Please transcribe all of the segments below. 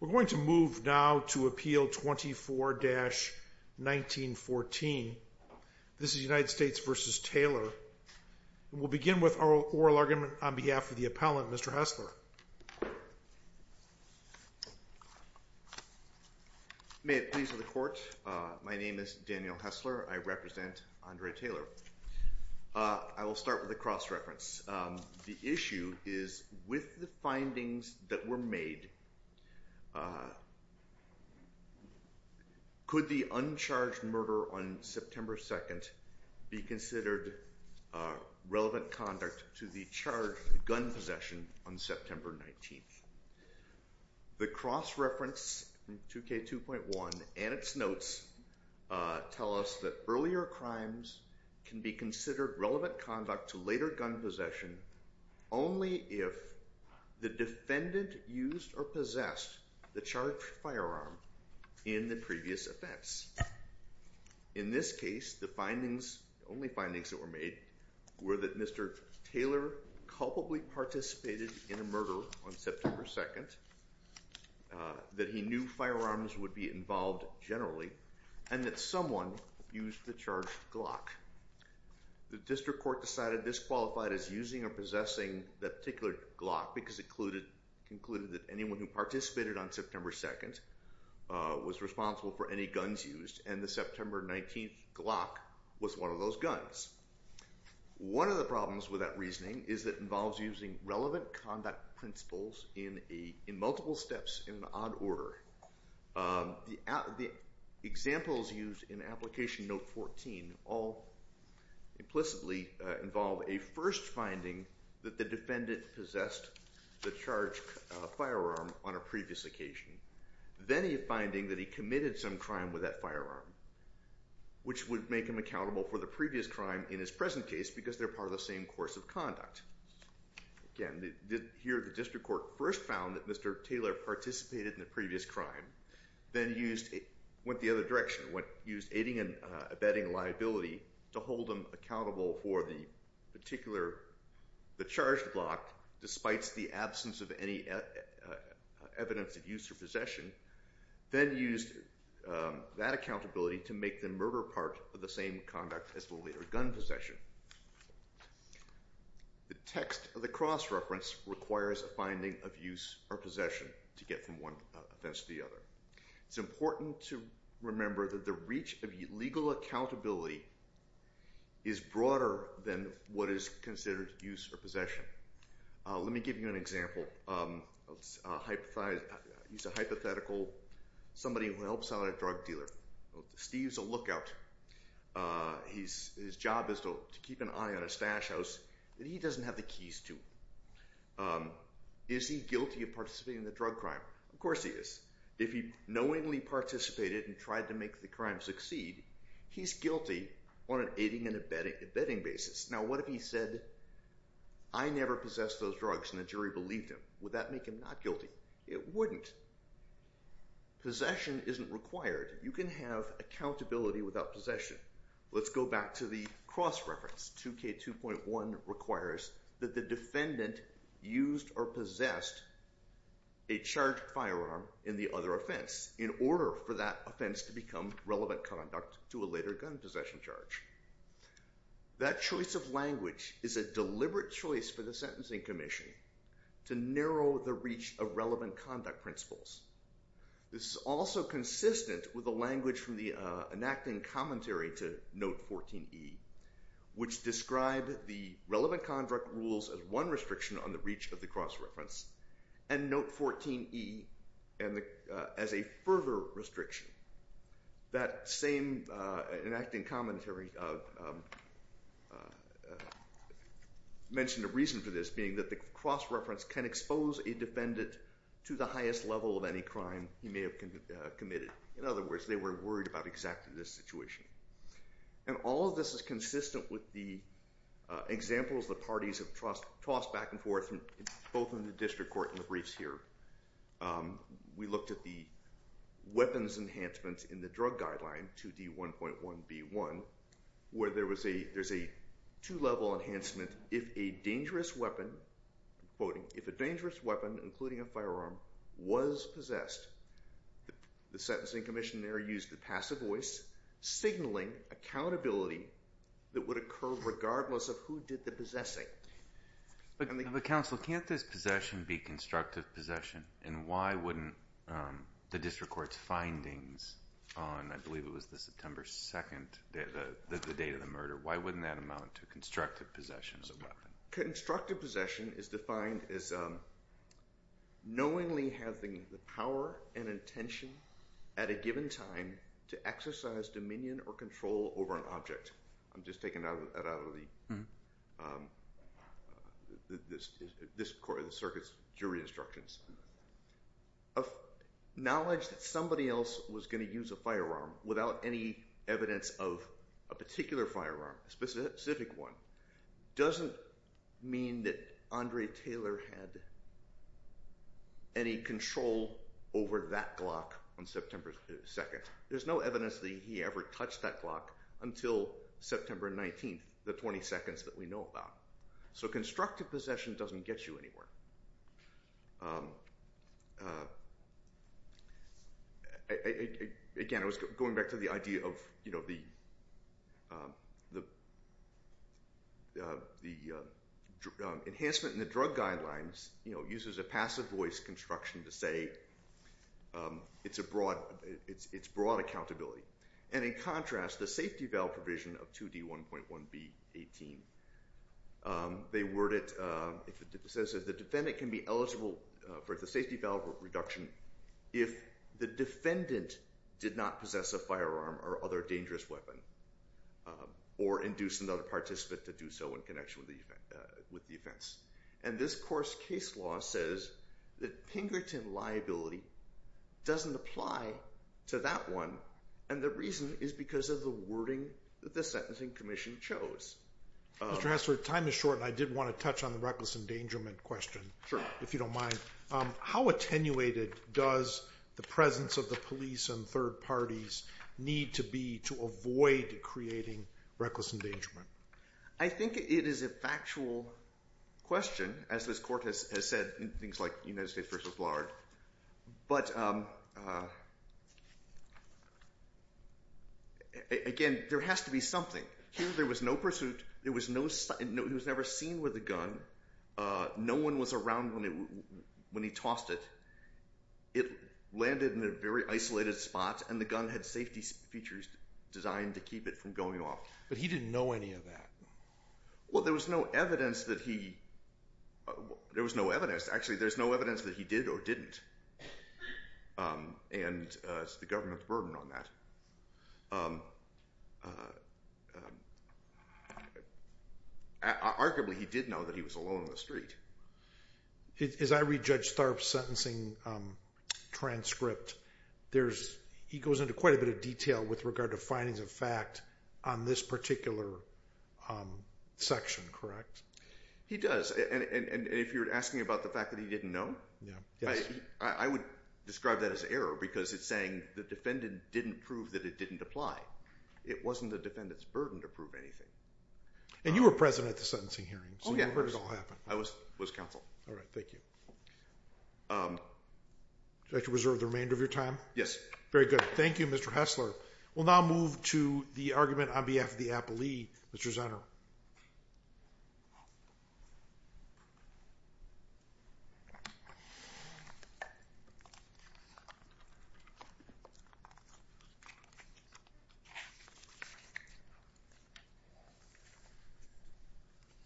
We're going to move now to Appeal 24-1914. This is United States v. Taylor. We'll begin with our oral argument on behalf of the appellant, Mr. Hessler. May it please the Court, my name is Daniel Hessler. I represent Andrei Taylor. I will start with a cross-reference. The issue is, with the findings that were made, could the uncharged murder on September 2nd be considered relevant conduct to the charged gun possession on September 19th? The cross-reference in 2K2.1 and its notes tell us that earlier crimes can be considered relevant conduct to later gun possession only if the defendant used or possessed the charged firearm in the previous events. In this case, the only findings that were made were that Mr. Taylor culpably participated in a murder on September 2nd, that he knew firearms would be involved generally, and that someone used the charged Glock. The District Court decided this qualified as using or possessing that particular Glock because it concluded that anyone who participated on September 2nd was responsible for any guns used, and the September 19th Glock was one of those guns. One of the problems with that reasoning is that it involves using relevant conduct principles in multiple steps in an odd order. The examples used in Application Note 14 all implicitly involve a first finding that the defendant possessed the charged firearm on a previous occasion, then a finding that he committed some crime with that firearm, which would make him accountable for the previous crime in his present case because they're part of the same course of conduct. Again, here the District Court first found that Mr. Taylor participated in the previous crime, then went the other direction and used aiding and abetting liability to hold him accountable for the charged Glock despite the absence of any evidence of use or possession, then used that accountability to make the murder part of the same conduct as the later gun possession. Text of the cross-reference requires a finding of use or possession to get from one offense to the other. It's important to remember that the reach of legal accountability is broader than what is considered use or possession. Let me give you an example. Let's use a hypothetical. Somebody who helps out at a drug dealer. Steve's a lookout. His job is to keep an eye on a stash house that he doesn't have the keys to. Is he guilty of participating in the drug crime? Of course he is. If he knowingly participated and tried to make the crime succeed, he's guilty on an aiding and abetting basis. Now, what if he said, I never possessed those drugs and the jury believed him? Would that make him not guilty? It wouldn't. Possession isn't required. You can have accountability without possession. Let's go back to the cross-reference. 2K2.1 requires that the defendant used or possessed a charged firearm in the other offense in order for that offense to become relevant conduct to a later gun possession charge. That choice of language is a deliberate choice for the Sentencing Commission to narrow the reach of relevant conduct principles. This is also consistent with the language from the enacting commentary to Note 14E, which described the relevant conduct rules as one restriction on the reach of the cross-reference, and Note 14E as a further restriction. That same enacting commentary mentioned a reason for this, being that the cross-reference can expose a defendant to the highest level of any crime he may have committed. In other words, they were worried about exactly this situation. And all of this is consistent with the examples the parties have tossed back and forth, both in the district court and the briefs here. We looked at the weapons enhancement in the drug guideline, 2D1.1b1, where there's a two-level enhancement. If a dangerous weapon, including a firearm, was possessed, the Sentencing Commission there used the passive voice signaling accountability that would occur regardless of who did the possessing. But counsel, can't this possession be constructive possession? And why wouldn't the district court's findings on, I believe it was the September 2nd, the date of the murder, why wouldn't that amount to constructive possession of the weapon? Constructive possession is defined as knowingly having the power and intention at a given time to exercise dominion or control over an object. I'm just taking that out of the circuit's jury instructions. Knowledge that somebody else was going to use a firearm without any evidence of a particular firearm, a specific one, doesn't mean that Andre Taylor had any control over that Glock on September 2nd. There's no evidence that he ever touched that Glock until September 19th, the 20 seconds that we know about. So constructive possession doesn't get you anywhere. Again, I was going back to the idea of the enhancement in the drug guidelines uses a passive voice construction to say it's broad accountability. And in contrast, the safety valve provision of 2D1.1B18, they word it, it says that the defendant can be eligible for the safety valve reduction if the defendant did not possess a firearm or other dangerous weapon, or induce another participant to do so in connection with the offense. And this course case law says that Pinkerton liability doesn't apply to that one. And the reason is because of the wording that the Sentencing Commission chose. Mr. Hesler, time is short and I did want to touch on the reckless endangerment question, if you don't mind. How attenuated does the presence of the police and third parties need to be to avoid creating reckless endangerment? I think it is a factual question, as this court has said in things like United States v. Lard. But, again, there has to be something. There was no pursuit. There was no sight. He was never seen with a gun. No one was around when he tossed it. It landed in a very isolated spot, and the gun had safety features designed to keep it from going off. But he didn't know any of that. Well, there was no evidence that he... There was no evidence. Actually, there's no evidence that he did or didn't. And it's the government's burden on that. Arguably, he did know that he was alone on the street. As I read Judge Tharp's sentencing transcript, he goes into quite a bit of detail with regard to findings of fact on this particular section, correct? He does. And if you're asking about the fact that he didn't know, I would describe that as error because it's saying the defendant didn't prove that it didn't apply. It wasn't the defendant's burden to prove anything. And you were present at the sentencing hearing, so you heard it all happen. I was counsel. All right. Thank you. Would you like to reserve the remainder of your time? Yes. Very good. Thank you, Mr. Hessler. We'll now move to the argument on behalf of the appellee, Mr. Zano. Mr. Zano.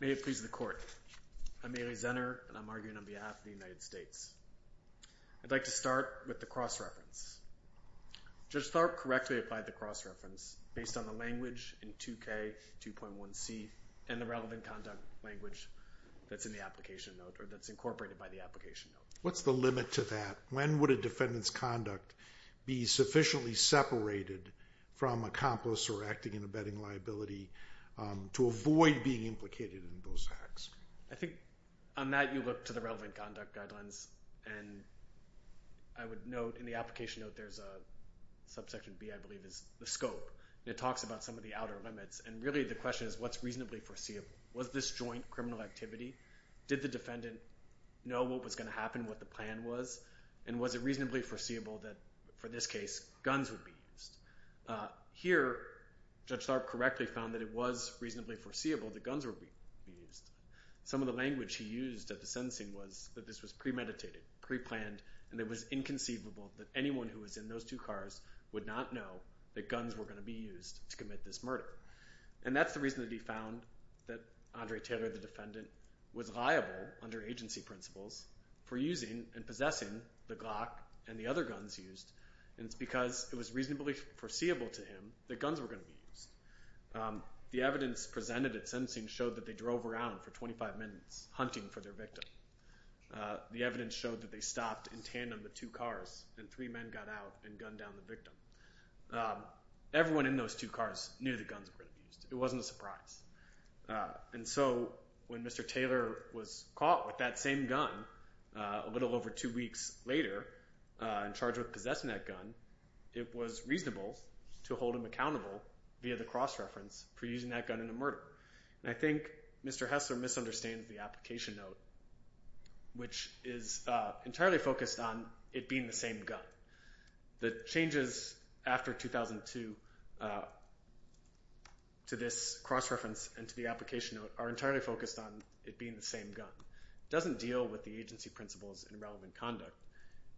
May it please the court. I'm Mary Zenner, and I'm arguing on behalf of the United States. I'd like to start with the cross-reference. Judge Tharp correctly applied the cross-reference based on the language in 2K2.1C and the relevant conduct language that's in the application note or that's incorporated by the application note. What's the limit to that? When would a defendant's conduct be sufficiently separated from accomplice or acting in a betting liability to avoid being implicated in those acts? I think on that you look to the relevant conduct guidelines, and I would note in the application note there's a subsection B, I believe, is the scope. And it talks about some of the outer limits. And really the question is what's reasonably foreseeable? Was this joint criminal activity? Did the defendant know what was going to happen, what the plan was? And was it reasonably foreseeable that, for this case, guns would be used? Here, Judge Tharp correctly found that it was reasonably foreseeable that guns would be used. Some of the language he used at the sentencing was that this was premeditated, preplanned, and it was inconceivable that anyone who was in those two cars would not know that guns were going to be used to commit this murder. And that's the reason that he found that Andre Taylor, the defendant, was liable under agency principles for using and possessing the Glock and the other guns used. And it's because it was reasonably foreseeable to him that guns were going to be used. The evidence presented at sentencing showed that they drove around for 25 minutes hunting for their victim. The evidence showed that they stopped in tandem with two cars, and three men got out and gunned down the victim. Everyone in those two cars knew that guns were going to be used. It wasn't a surprise. And so when Mr. Taylor was caught with that same gun a little over two weeks later and charged with possessing that gun, it was reasonable to hold him accountable via the cross-reference for using that gun in a murder. And I think Mr. Hessler misunderstands the application note, which is entirely focused on it being the same gun. The changes after 2002 to this cross-reference and to the application note are entirely focused on it being the same gun. It doesn't deal with the agency principles and relevant conduct.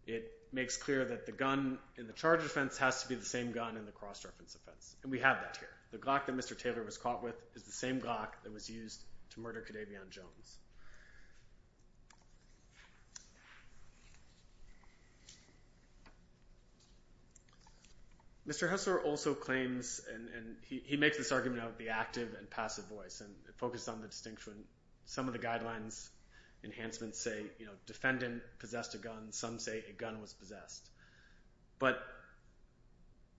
It makes clear that the gun in the charge offense has to be the same gun in the cross-reference offense. And we have that here. The Glock that Mr. Taylor was caught with is the same Glock that was used to murder Cadavian Jones. Mr. Hessler also claims, and he makes this argument of the active and passive voice, and it focuses on the distinction. Some of the guidelines enhancements say, you know, defendant possessed a gun. Some say a gun was possessed. But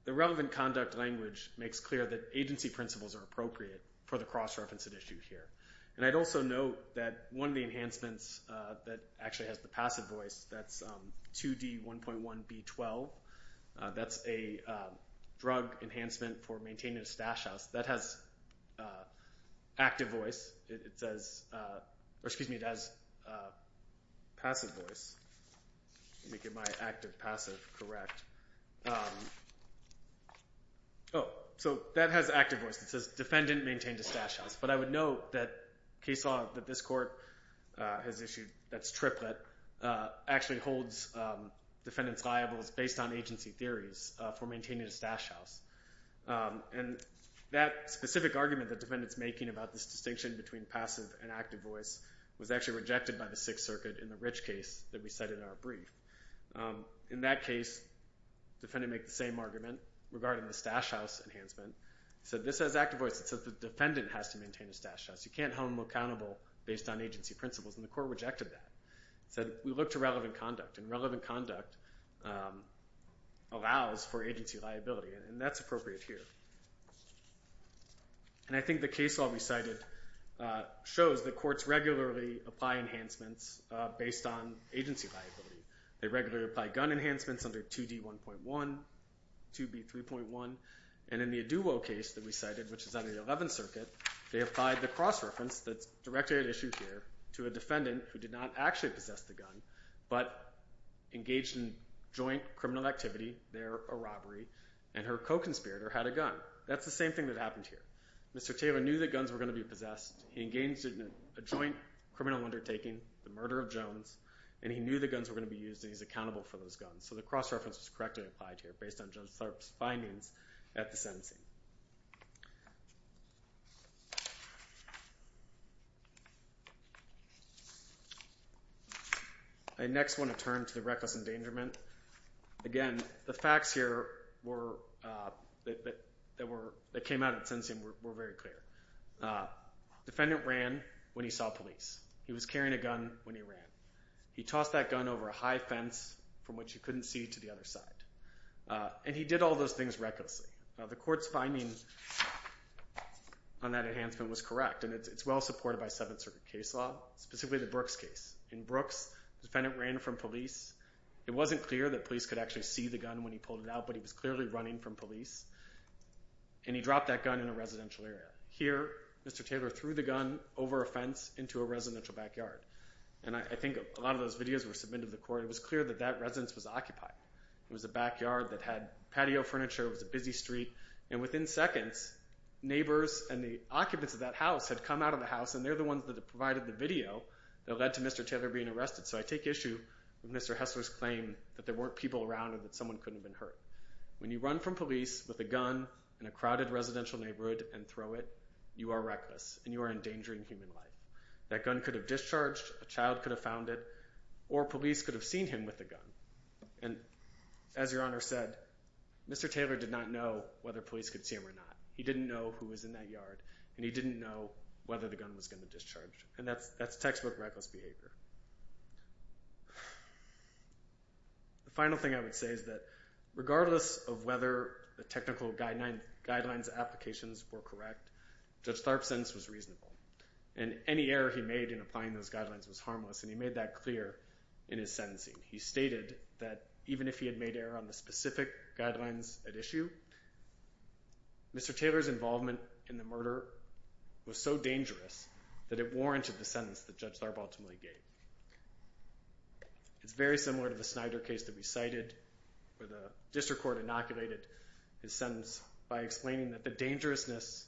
the relevant conduct language makes clear that agency principles are appropriate for the cross-reference at issue here. And I'd also note that one of the enhancements that actually has the passive voice, that's 2D1.1B12. That's a drug enhancement for maintaining a stash house. That has active voice. It says – or excuse me, it has passive voice. Let me get my active, passive correct. Oh, so that has active voice. It says defendant maintained a stash house. But I would note that case law that this court has issued that's triplet actually holds defendants liable based on agency theories for maintaining a stash house. And that specific argument that defendant's making about this distinction between passive and active voice was actually rejected by the Sixth Circuit in the Rich case that we said in our brief. In that case, defendant made the same argument regarding the stash house enhancement. It said this has active voice. It says the defendant has to maintain a stash house. You can't hold them accountable based on agency principles, and the court rejected that. It said we look to relevant conduct, and relevant conduct allows for agency liability. And that's appropriate here. And I think the case law we cited shows that courts regularly apply enhancements based on agency liability. They regularly apply gun enhancements under 2D1.1, 2B3.1. And in the Aduwo case that we cited, which is under the Eleventh Circuit, they applied the cross-reference that's directly at issue here to a defendant who did not actually possess the gun, but engaged in joint criminal activity there, a robbery, and her co-conspirator had a gun. That's the same thing that happened here. Mr. Taylor knew that guns were going to be possessed. He engaged in a joint criminal undertaking, the murder of Jones, and he knew the guns were going to be used, and he's accountable for those guns. So the cross-reference was correctly applied here based on Judge Tharp's findings at the sentencing. I next want to turn to the reckless endangerment. Again, the facts here that came out at sentencing were very clear. Defendant ran when he saw police. He was carrying a gun when he ran. He tossed that gun over a high fence from which he couldn't see to the other side, and he did all those things recklessly. Now, the court's finding on that enhancement was correct, and it's well supported by Seventh Circuit case law, specifically the Brooks case. In Brooks, the defendant ran from police. It wasn't clear that police could actually see the gun when he pulled it out, but he was clearly running from police, and he dropped that gun in a residential area. Here, Mr. Taylor threw the gun over a fence into a residential backyard. And I think a lot of those videos were submitted to the court. It was clear that that residence was occupied. It was a backyard that had patio furniture. It was a busy street, and within seconds, neighbors and the occupants of that house had come out of the house, and they're the ones that provided the video that led to Mr. Taylor being arrested. So I take issue with Mr. Hessler's claim that there weren't people around and that someone couldn't have been hurt. When you run from police with a gun in a crowded residential neighborhood and throw it, you are reckless, and you are endangering human life. That gun could have discharged, a child could have found it, or police could have seen him with the gun. And as Your Honor said, Mr. Taylor did not know whether police could see him or not. He didn't know who was in that yard, and he didn't know whether the gun was going to discharge. And that's textbook reckless behavior. The final thing I would say is that regardless of whether the technical guidelines applications were correct, Judge Tharp's sentence was reasonable. And any error he made in applying those guidelines was harmless, and he made that clear in his sentencing. He stated that even if he had made error on the specific guidelines at issue, Mr. Taylor's involvement in the murder was so dangerous that it warranted the sentence that Judge Tharp ultimately gave. It's very similar to the Snyder case that we cited where the district court inoculated his sentence by explaining that the dangerousness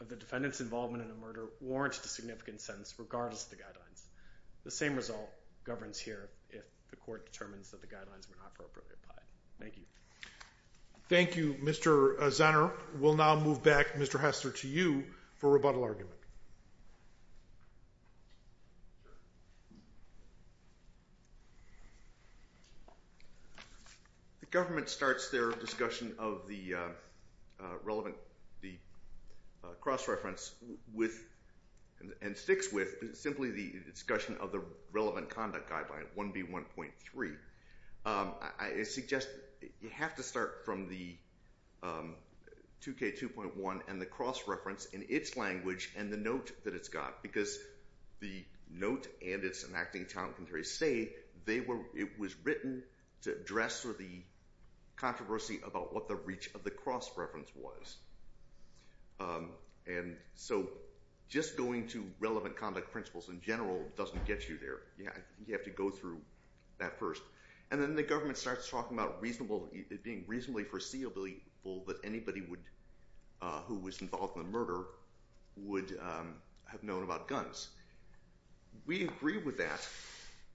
of the defendant's involvement in a murder warranted a significant sentence regardless of the guidelines. The same result governs here if the court determines that the guidelines were not appropriately applied. Thank you. Thank you, Mr. Zanner. We'll now move back, Mr. Hester, to you for rebuttal argument. The government starts their discussion of the relevant cross-reference with and sticks with simply the discussion of the relevant conduct guideline 1B1.3. I suggest you have to start from the 2K2.1 and the cross-reference in its language and the note that it's got, because the note and its enacting talent commentary say it was written to address the controversy about what the reach of the cross-reference was. And so just going to relevant conduct principles in general doesn't get you there. I think you have to go through that first. And then the government starts talking about it being reasonably foreseeable that anybody who was involved in the murder would have known about guns. We agree with that.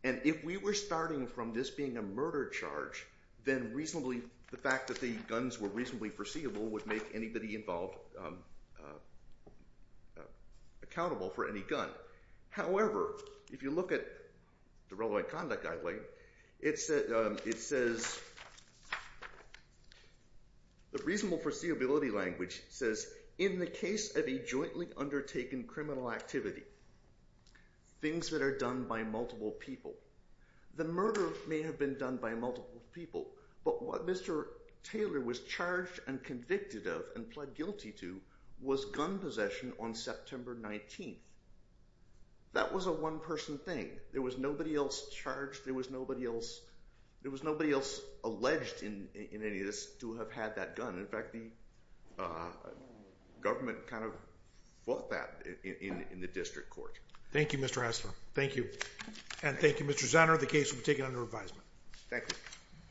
And if we were starting from this being a murder charge, then the fact that the guns were reasonably foreseeable would make anybody involved accountable for any gun. However, if you look at the relevant conduct guideline, it says, the reasonable foreseeability language says, in the case of a jointly undertaken criminal activity, things that are done by multiple people, the murder may have been done by multiple people, but what Mr. Taylor was charged and convicted of and pled guilty to was gun possession on September 19th. That was a one-person thing. There was nobody else charged. There was nobody else alleged in any of this to have had that gun. In fact, the government kind of fought that in the district court. Thank you, Mr. Hessler. Thank you. And thank you, Mr. Zanner. The case will be taken under revisement. Thank you.